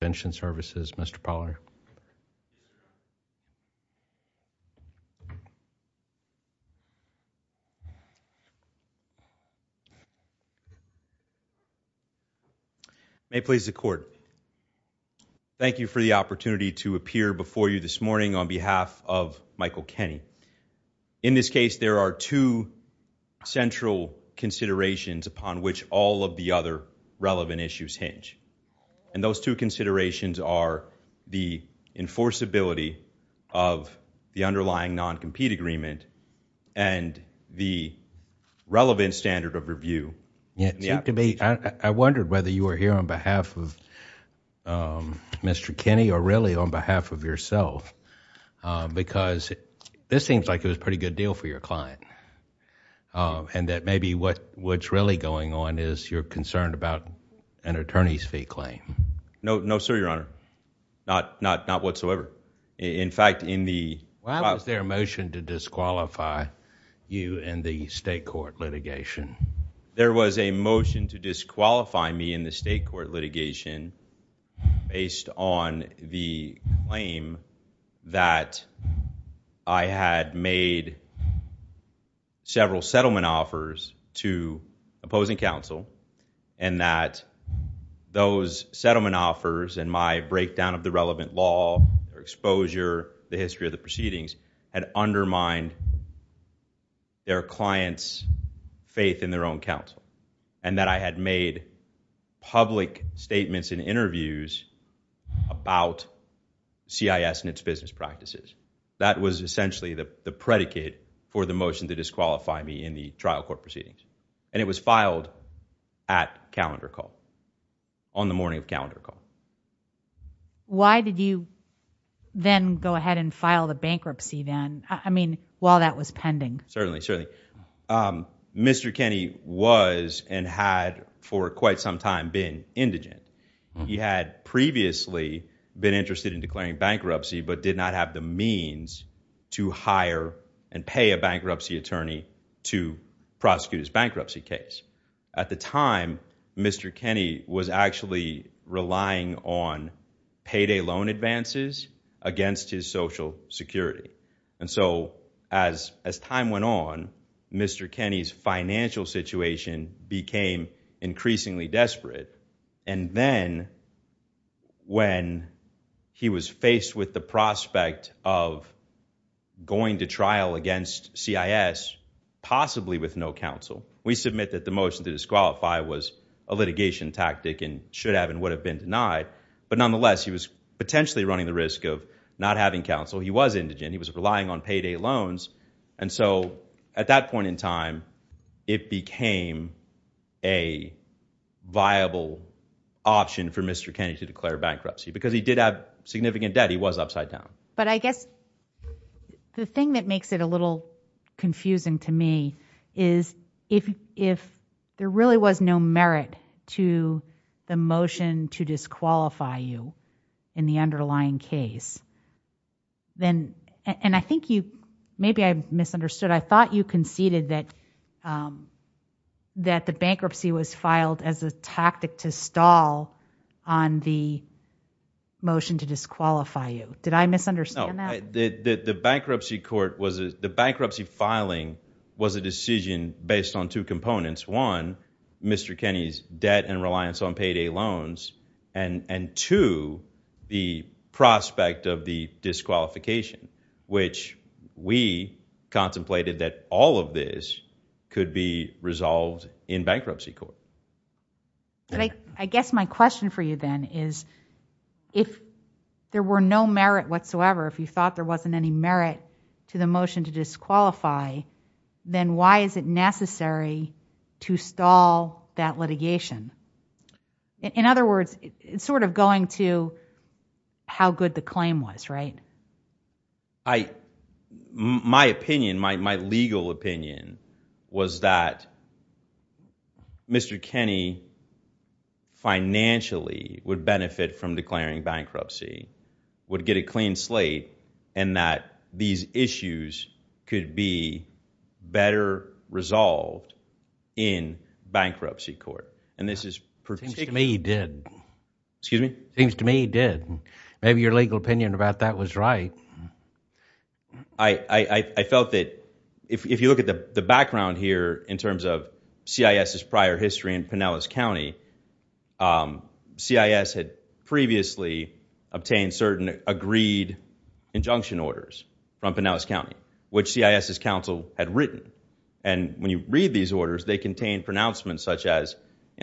Thank you for the opportunity to appear before you this morning on behalf of Michael Kenny. In this case, there are two central considerations upon which all of the other relevant issues and those two considerations are the enforceability of the underlying non-compete agreement and the relevant standard of review. I wondered whether you were here on behalf of Mr. Kenny or really on behalf of yourself because this seems like it was a pretty good deal for your client and that maybe what's really going on is you're concerned about an attorney's fee claim. No, sir, your honor. Not whatsoever. In fact, in the- Why was there a motion to disqualify you in the state court litigation? There was a motion to disqualify me in the state court litigation based on the claim that I had made several settlement offers to opposing counsel and that those settlement offers and my breakdown of the relevant law, their exposure, the history of the proceedings had undermined their client's faith in their own counsel and that I had made public statements and interviews about CIS and its business practices. That was essentially the predicate for the motion to disqualify me in the trial court proceedings and it was filed at calendar call, on the morning of calendar call. Why did you then go ahead and file the bankruptcy then? I mean, while that was pending. Certainly, certainly. Mr. Kenny was and had for quite some time been indigent. He had previously been interested in declaring bankruptcy but did not have the means to hire and pay a bankruptcy attorney to prosecute his bankruptcy case. At the time, Mr. Kenny was actually relying on payday loan advances against his social security and so as time went on, Mr. Kenny's financial situation became increasingly desperate and then when he was faced with the prospect of going to trial against CIS, possibly with no counsel, we submit that the motion to disqualify was a litigation tactic and should have and would have been denied but nonetheless he was potentially running the risk of not having counsel. He was indigent. He was it became a viable option for Mr. Kenny to declare bankruptcy because he did have significant debt. He was upside down. But I guess the thing that makes it a little confusing to me is if if there really was no merit to the motion to disqualify you in the underlying case, then and I think you maybe I misunderstood. I thought you conceded that that the bankruptcy was filed as a tactic to stall on the motion to disqualify you. Did I misunderstand that? The bankruptcy court was the bankruptcy filing was a decision based on two components. One, Mr. Kenny's debt and reliance on payday loans and and two, the prospect of the disqualification which we contemplated that all of this could be resolved in bankruptcy court. But I guess my question for you then is if there were no merit whatsoever, if you thought there wasn't any merit to the motion to disqualify, then why is it necessary to stall that litigation? In other words, it's sort of going to how good the claim was, right? I my opinion, my legal opinion was that Mr. Kenny financially would benefit from declaring bankruptcy, would get a clean slate and that these issues could be better resolved in bankruptcy court. And this is perfect. To me he did. Excuse me? Seems to me he did. Maybe your legal opinion about that was right. I felt that if you look at the background here in terms of CIS's prior history in Pinellas County, CIS had previously obtained certain agreed injunction orders from Pinellas County, which CIS's counsel had written. And when you read these orders, they contain pronouncements such as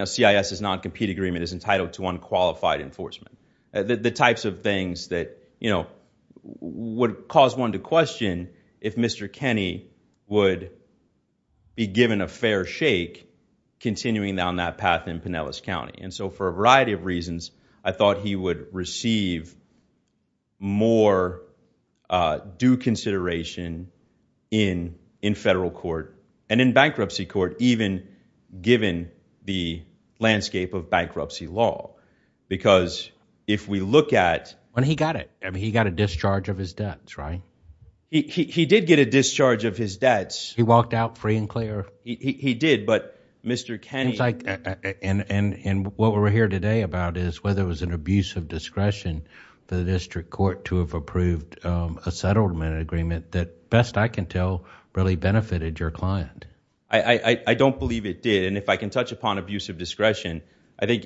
CIS's non-compete agreement is entitled to unqualified enforcement. The types of things that, you know, would cause one to question if Mr. Kenny would be given a fair shake continuing down that path in Pinellas County. And so for a variety of reasons, I thought he would receive more due consideration in in federal court and in bankruptcy court, even given the landscape of bankruptcy law. Because if we look at when he got it, I mean, he got a discharge of his debts, right? He did get a discharge of his debts. He walked out free and he did. But Mr. Kenny. And what we're here today about is whether it was an abuse of discretion for the district court to have approved a settlement agreement that best I can tell really benefited your client. I don't believe it did. And if I can touch upon abuse of discretion, I think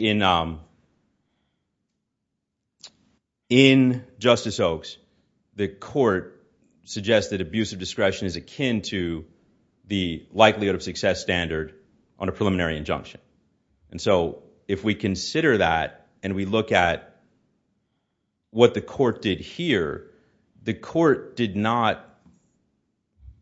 in Justice Oaks, the court suggests that abuse of discretion is akin to the likelihood of success standard on a preliminary injunction. And so if we consider that and we look at what the court did here, the court did not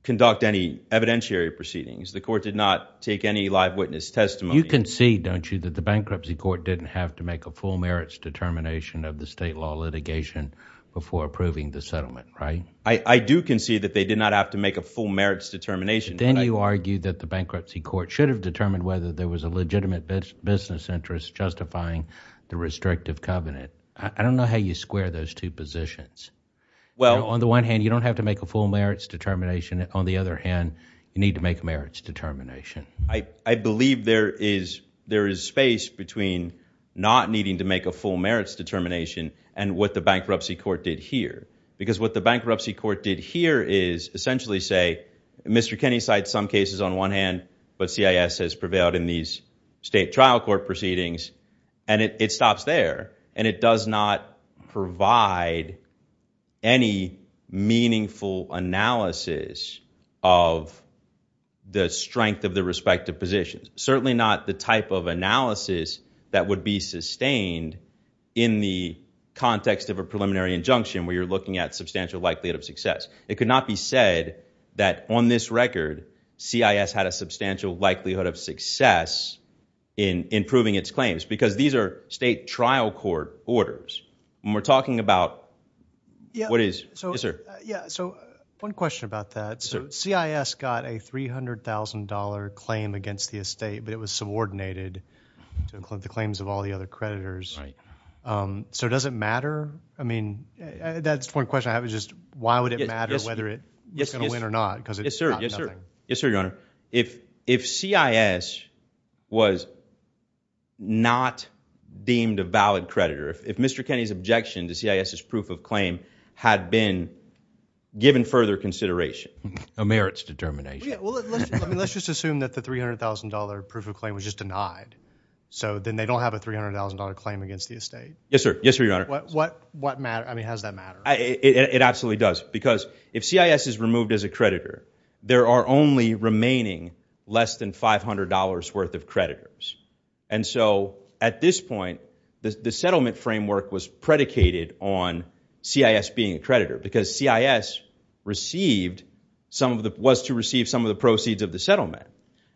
conduct any evidentiary proceedings. The court did not take any live witness testimony. You concede, don't you, that the bankruptcy court didn't have to make a full merits determination of the state law litigation before approving the settlement, right? I do concede that they did not have to make a full merits determination. Then you argue that the bankruptcy court should have determined whether there was a legitimate business interest justifying the restrictive covenant. I don't know how you square those two positions. Well, on the one hand, you don't have to make a full merits determination. On the other hand, you need to make merits determination. I believe there is there is space between not needing to make a full merits determination and what the bankruptcy court did here. Because what the bankruptcy court did here is essentially say, Mr. Kenney cites some cases on one hand, but CIS has prevailed in these state trial court proceedings. And it stops there. And it does not provide any meaningful analysis of the strength of the respective positions. Certainly not the type of analysis that would be sustained in the context of a preliminary injunction where you're looking at substantial likelihood of success. It could not be said that on this record, CIS had a substantial likelihood of success in improving its claims. Because these are state trial court orders. When we're talking about what is, yes, sir? So one question about that. So CIS got a $300,000 claim against the estate, but it was subordinated to include the claims of all the other creditors. So does it matter? I mean, that's one question I have is just why would it matter whether it's going to win or not? Yes, sir. Yes, sir. Yes, sir, your honor. If CIS was not deemed a valid creditor, if Mr. Kenney's objection to CIS's proof of claim had been given further consideration. A merits determination. Let's just assume that the $300,000 proof of claim was just denied. So then they don't have a $300,000 claim against the estate. Yes, sir. Yes, sir, your honor. What matter? I mean, how does that matter? It absolutely does. Because if CIS is removed as a creditor, there are only remaining less than $500 worth of creditors. And so at this point, the settlement framework was predicated on CIS being a creditor because CIS received some of the was to receive some of the proceeds of the settlement.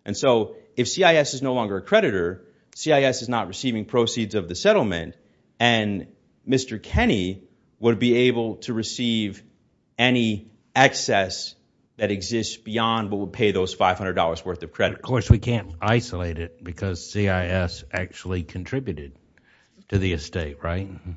And so if CIS is no longer a creditor, CIS is not receiving proceeds of the settlement and Mr. Kenney would be able to receive any excess that exists beyond what would pay those $500 worth of credit. Of course, we can't isolate it because CIS actually contributed to the estate, right? Mm hmm.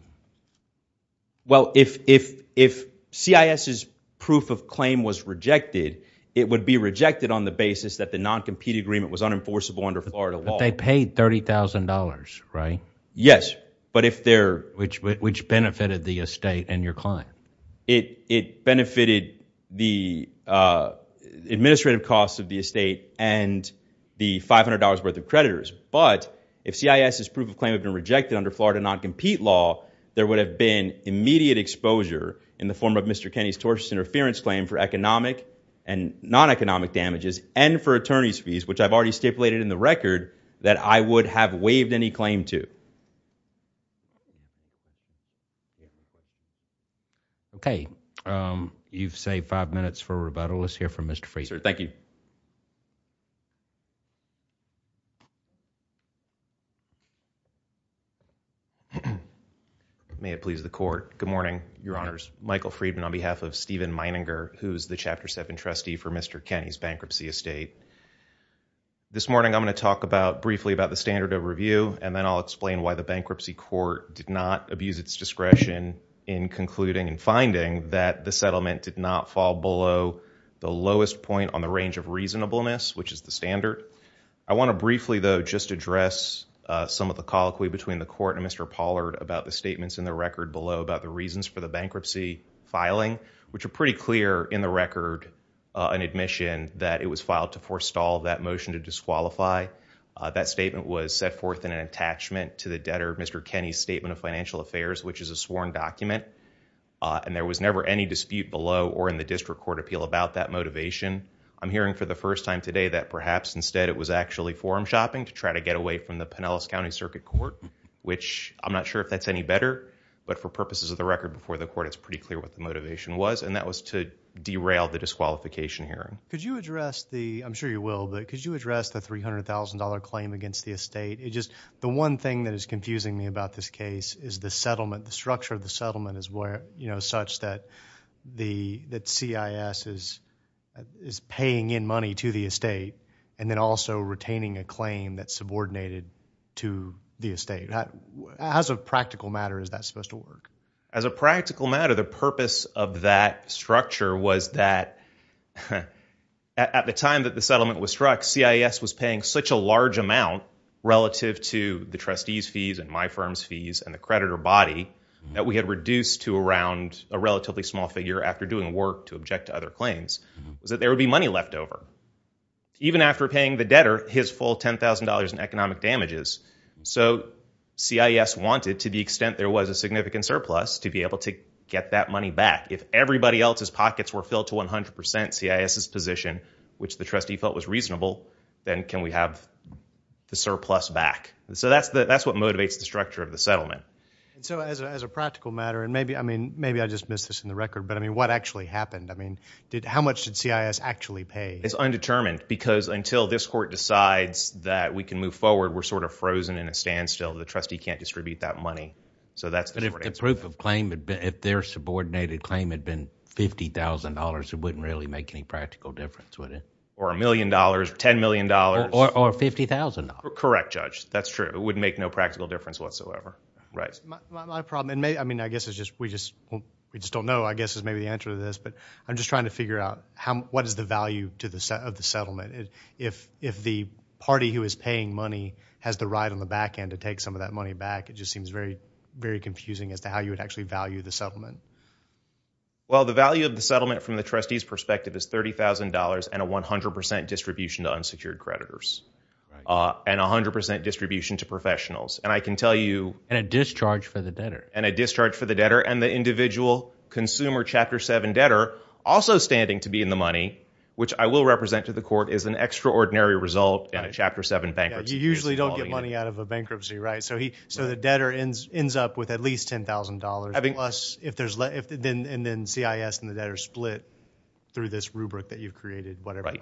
Well, if CIS's proof of claim was rejected, it would be rejected on the basis that the non-compete agreement was unenforceable under Florida law. But they paid $30,000, right? Yes. But if they're... Which benefited the estate and your client? It benefited the administrative costs of the estate and the $500 worth of creditors. But if CIS's proof of claim had been rejected under Florida non-compete law, there would have been immediate exposure in the form of Mr. Kenney's tortious interference claim for economic and non-economic damages and for attorney's fees, which I've already stipulated in the record that I would have waived any claim to. Okay. You've saved five minutes for rebuttal. Let's hear from Mr. Fraser. Thank you. May it please the court. Good morning, Your Honors. Michael Friedman on behalf of Stephen Meininger, who's the Chapter 7 trustee for Mr. Kenney's bankruptcy estate. This morning, I'm going to talk briefly about the standard of review, and then I'll explain why the bankruptcy court did not abuse its discretion in concluding and finding that the settlement did not fall below the lowest point on the range of reasonableness, which is standard. I want to briefly, though, just address some of the colloquy between the court and Mr. Pollard about the statements in the record below about the reasons for the bankruptcy filing, which are pretty clear in the record, an admission that it was filed to forestall that motion to disqualify. That statement was set forth in an attachment to the debtor, Mr. Kenney's statement of financial affairs, which is a sworn document, and there was never any dispute below or in the district court appeal about that motivation. I'm hearing for the first time today that perhaps instead it was actually forum shopping to try to get away from the Pinellas County Circuit Court, which I'm not sure if that's any better, but for purposes of the record before the court, it's pretty clear what the motivation was, and that was to derail the disqualification hearing. Could you address the, I'm sure you will, but could you address the $300,000 claim against the estate? It just, the one thing that is confusing me about this case is the settlement, the structure of the settlement is where, you know, such that CIS is paying in money to the estate and then also retaining a claim that's subordinated to the estate. How, as a practical matter, is that supposed to work? As a practical matter, the purpose of that structure was that at the time that the settlement was struck, CIS was paying such a large amount relative to the trustee's fees and my firm's after doing work to object to other claims, was that there would be money left over, even after paying the debtor his full $10,000 in economic damages. So CIS wanted, to the extent there was a significant surplus, to be able to get that money back. If everybody else's pockets were filled to 100% CIS's position, which the trustee felt was reasonable, then can we have the surplus back? So that's what motivates the structure of the settlement. So as a practical matter, and maybe I just missed this in the record, but I mean, what actually happened? I mean, how much did CIS actually pay? It's undetermined because until this court decides that we can move forward, we're sort of frozen in a standstill. The trustee can't distribute that money. But if the proof of claim, if their subordinated claim had been $50,000, it wouldn't really make any practical difference, would it? Or a million dollars, $10 million. Or $50,000. Correct, Judge. That's true. It would make no practical difference whatsoever. My problem, I mean, I guess it's just, we just don't know, I guess is maybe the answer to this, but I'm just trying to figure out what is the value of the settlement? If the party who is paying money has the right on the back end to take some of that money back, it just seems very, very confusing as to how you would actually value the settlement. Well, the value of the settlement from the trustee's perspective is $30,000 and a 100% distribution to unsecured creditors. And 100% distribution to professionals. And I can tell you- And a discharge for the debtor. And a discharge for the debtor. And the individual consumer Chapter 7 debtor also standing to be in the money, which I will represent to the court, is an extraordinary result in a Chapter 7 bankruptcy. You usually don't get money out of a bankruptcy, right? So the debtor ends up with at least $10,000. And then CIS and the debtor split through this rubric that you've created, whatever.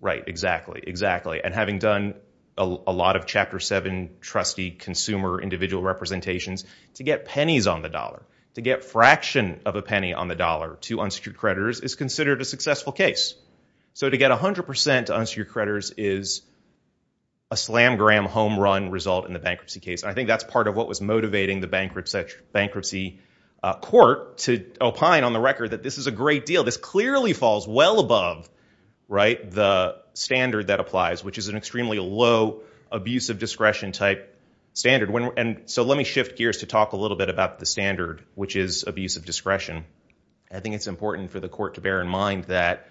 Right, exactly, exactly. And having done a lot of Chapter 7 trustee consumer individual representations, to get pennies on the dollar, to get fraction of a penny on the dollar to unsecured creditors is considered a successful case. So to get 100% to unsecured creditors is a slam-gram home run result in the bankruptcy case. I think that's part of what was motivating the bankruptcy court to opine on the record that this is a great deal. This clearly falls well above the standard that applies, which is an extremely low abuse of discretion type standard. So let me shift gears to talk a little bit about the standard, which is abuse of discretion. I think it's important for the court to bear in mind that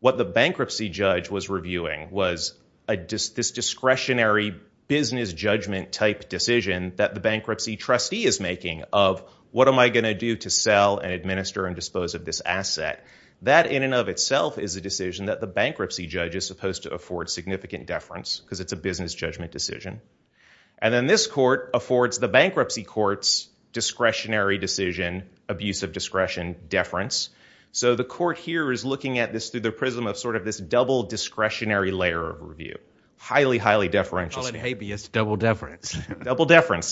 what the bankruptcy judge was reviewing was this discretionary business judgment type decision that the bankruptcy trustee is making of, what am I going to do to sell and administer and dispose of this asset? That in and of itself is a decision that the bankruptcy judge is supposed to afford significant deference, because it's a business judgment decision. And then this court affords the bankruptcy court's discretionary decision, abuse of discretion, deference. So the court here is looking at this through the prism of sort of this double discretionary layer of review. Highly, highly deferential. I call it habeas double deference. Double deference.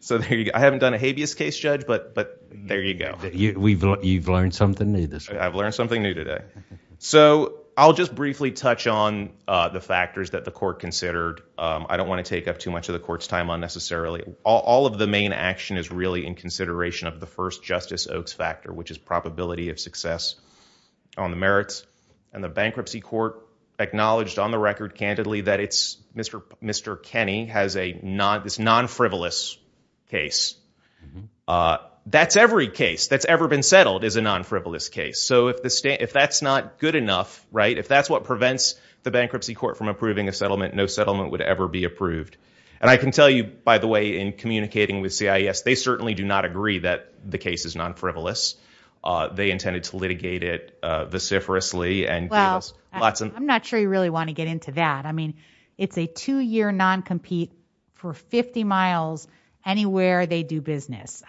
So there you go. I haven't done a habeas case, Judge, but there you go. You've learned something new this week. I've learned something new today. So I'll just briefly touch on the factors that the court considered. I don't want to take up too much of the court's time unnecessarily. All of the main action is really in consideration of the first Justice Oaks factor, which is probability of success on the merits. And the bankruptcy court acknowledged on record candidly that Mr. Kenny has this non-frivolous case. That's every case that's ever been settled is a non-frivolous case. So if that's not good enough, right, if that's what prevents the bankruptcy court from approving a settlement, no settlement would ever be approved. And I can tell you, by the way, in communicating with CIS, they certainly do not agree that the case is non-frivolous. They intended to litigate it vociferously. Well, I'm not sure you really want to get into that. I mean, it's a two-year non-compete for 50 miles anywhere they do business.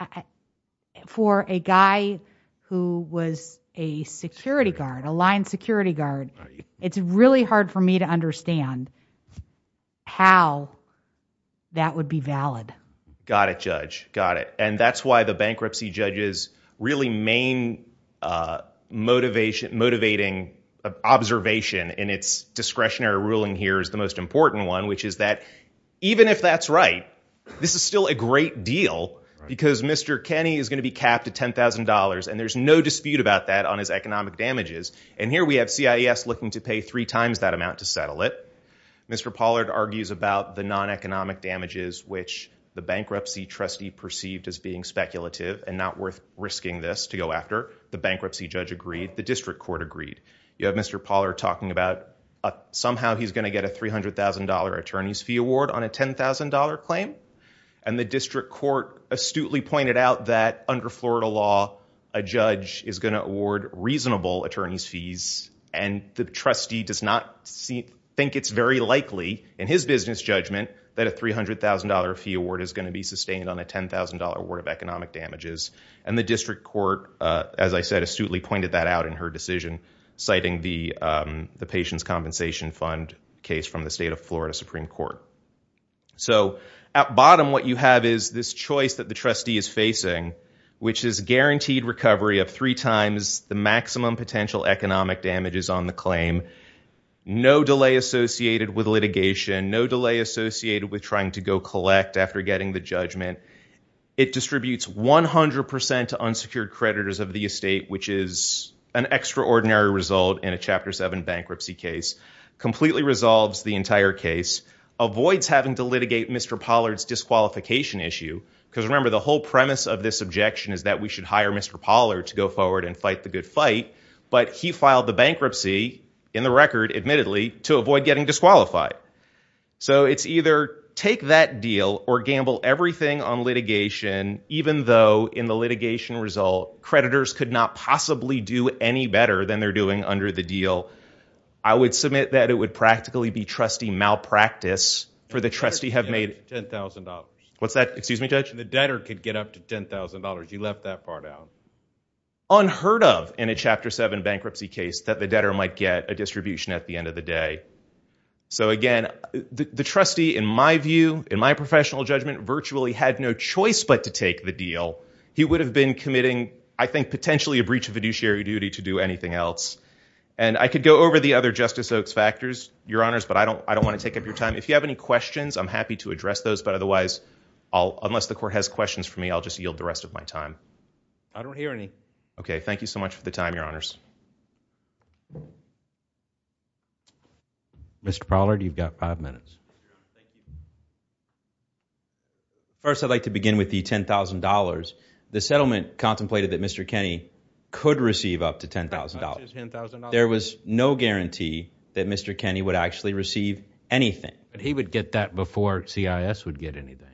For a guy who was a security guard, a line security guard, it's really hard for me to understand how that would be valid. Got it, Judge. Got it. And that's why the bankruptcy judge's really main motivating observation in its discretionary ruling here is the most important one, which is that even if that's right, this is still a great deal because Mr. Kenny is going to be capped at $10,000, and there's no dispute about that on his economic damages. And here we have CIS looking to pay three times that amount to settle it. Mr. Pollard argues about the non-economic damages, which the bankruptcy trustee perceived as being speculative and not worth risking this to go after. The bankruptcy judge agreed. The district court agreed. You have Mr. Pollard talking about somehow he's going to get a $300,000 attorney's fee award on a $10,000 claim. And the district court astutely pointed out that under Florida law, a judge is going to award reasonable attorney's fees, and the trustee does not think it's very likely in his business judgment that a $300,000 fee award is going to be sustained on a $10,000 award of economic damages. And the district court, as I said, astutely pointed that out in her decision, citing the patient's compensation fund case from the state of Florida Supreme Court. So at bottom, what you have is this choice that the trustee is facing, which is guaranteed recovery of three times the maximum potential economic damages on the claim, no delay associated with litigation, no delay associated with trying to go collect after getting the judgment. It distributes 100% to unsecured creditors of the estate, which is an extraordinary result in a Chapter 7 bankruptcy case, completely resolves the entire case, avoids having to litigate Mr. Pollard's disqualification issue, because remember, the whole premise of this objection is that we should hire Mr. Pollard to go forward and fight the good fight, but he filed the bankruptcy in the record, admittedly, to avoid getting disqualified. So it's either take that deal or gamble everything on litigation, even though in the litigation result, creditors could not possibly do any better than they're doing under the deal. I would submit that it would practically be trustee malpractice, for the trustee have made $10,000. What's that? Excuse me, Judge? The debtor could get up to $10,000. You left that part out. Unheard of in a Chapter 7 bankruptcy case that the debtor might get a distribution at the end of the day. So again, the trustee, in my view, in my professional judgment, virtually had no choice but to take the deal. He would have been committing, I think, potentially a breach of fiduciary duty to do anything else. And I could go over the other Justice Oaks factors, Your Honors, but I don't want to take up your time. If you have any questions, I'm happy to address those, but otherwise, unless the Court has questions for me, I'll just yield the rest of my time. I don't hear any. Okay, thank you so much for the time, Your Honors. Mr. Pollard, you've got five minutes. First, I'd like to begin with the $10,000. The settlement contemplated that Mr. Kenney could receive up to $10,000. There was no guarantee that Mr. Kenney would actually receive anything. But he would get that before CIS would get anything.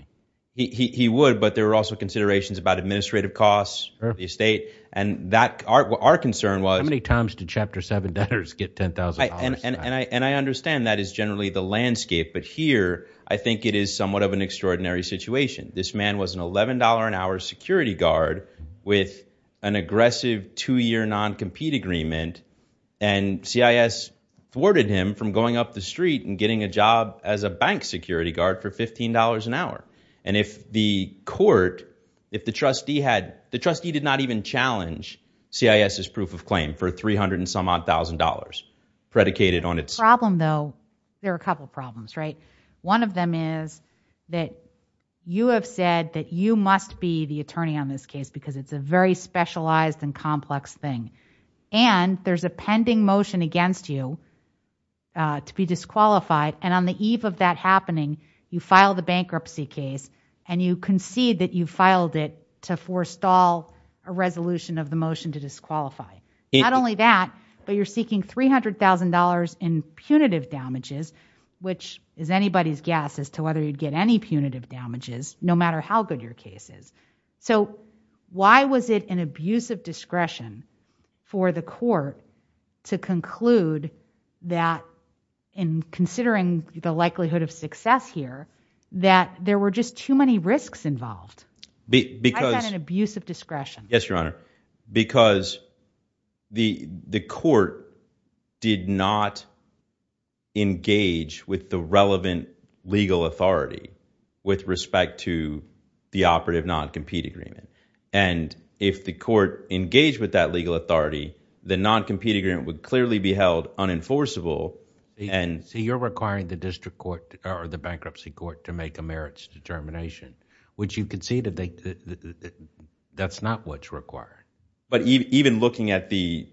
He would, but there were also considerations about administrative costs, the estate, and our concern was— How many times did Chapter 7 debtors get $10,000? And I understand that is generally the landscape, but here, I think it is somewhat of an extraordinary situation. This man was an $11 an hour security guard with an aggressive two-year non-compete agreement, and CIS thwarted him from going up the street and getting a job as a bank security guard for $15 an hour. And if the Court, if the trustee had, the trustee did not even challenge CIS's proof of claim for $300 and some odd thousand dollars predicated on its— Problem though, there are a couple problems, right? One of them is that you have said that you must be the attorney on this case because it's a very specialized and complex thing. And there's a pending motion against you to be disqualified. And on the eve of that happening, you file the bankruptcy case and you concede that you filed it to forestall a resolution of the motion to disqualify. Not only that, but you're seeking $300,000 in punitive damages, which is anybody's guess as to whether you'd get any punitive damages, no matter how good your case is. So why was it an abuse of discretion for the Court to conclude that, in considering the likelihood of success here, that there were just too many risks involved? Why was that an abuse of discretion? Yes, Your Honor. Because the Court did not engage with the relevant legal authority with respect to the operative non-compete agreement. And if the Court engaged with that and... So you're requiring the district court or the bankruptcy court to make a merits determination, which you concede that that's not what's required. But even looking at the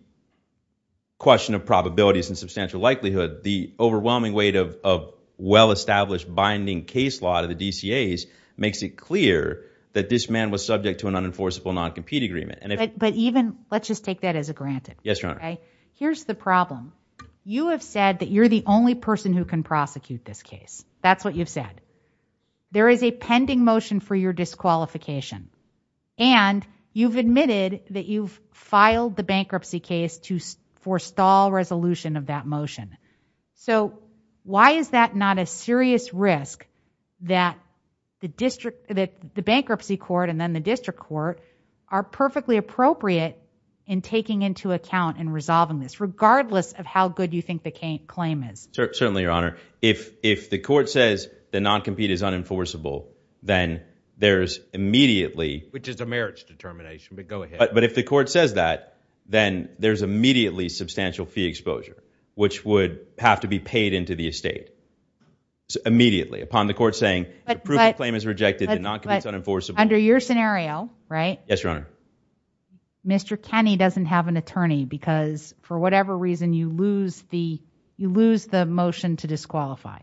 question of probabilities and substantial likelihood, the overwhelming weight of well-established binding case law to the DCAs makes it clear that this man was subject to an unenforceable non-compete agreement. But even, let's just take that as a granted. Yes, Your Honor. Here's the problem. You have said that you're the only person who can prosecute this case. That's what you've said. There is a pending motion for your disqualification. And you've admitted that you've filed the bankruptcy case to forestall resolution of that motion. So why is that not a serious risk that the bankruptcy court and then the district court are perfectly appropriate in taking into account and resolving this, regardless of how good you think the claim is? Certainly, Your Honor. If the Court says the non-compete is unenforceable, then there's immediately... Which is a merits determination, but go ahead. But if the Court says that, then there's immediately substantial fee exposure, which would have to be paid into the estate immediately upon the Court saying the proof of claim is rejected and non-compete is unenforceable. Under your scenario, right? Yes, Your Honor. Mr. Kenney doesn't have an attorney because, for whatever reason, you lose the motion to disqualify.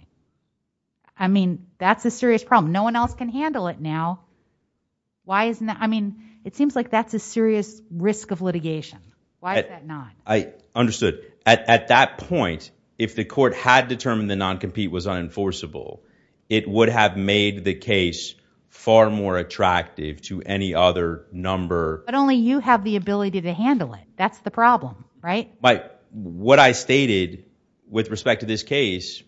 I mean, that's a serious problem. No one else can handle it now. Why isn't that? I mean, it seems like that's a serious risk of litigation. Why is that not? I understood. At that point, if the Court had determined the non-compete was unenforceable, it would have made the case far more attractive to any other number. But only you have the ability to handle it. That's the problem, right? But what I stated with respect to this case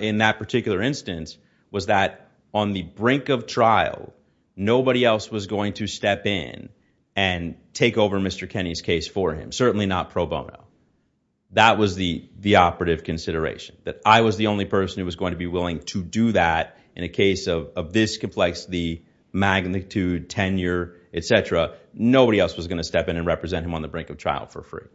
in that particular instance was that on the brink of trial, nobody else was going to step in and take over Mr. Kenney's case for him, certainly not pro bono. That was the operative consideration, that I was the only person who was going to be willing to do that in a case of this complexity, magnitude, tenure, etc. Nobody else was going to step in and represent him on the brink of trial for free.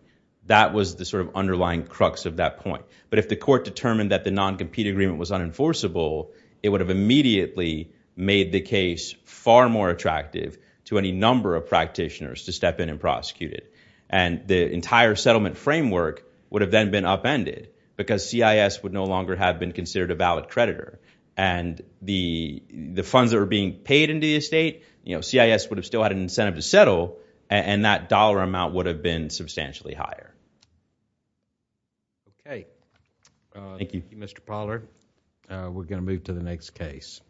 That was the sort of underlying crux of that point. But if the Court determined that the non-compete agreement was unenforceable, it would have immediately made the case far more attractive to any number of practitioners to step in and prosecute it. And the entire settlement framework would have then been upended because CIS would no longer have been considered a valid creditor. And the funds that were being paid into the estate, CIS would have still had an incentive to settle, and that dollar amount would have been substantially higher. Okay. Thank you. Thank you, Mr. Pollard. We're going to move to the next case.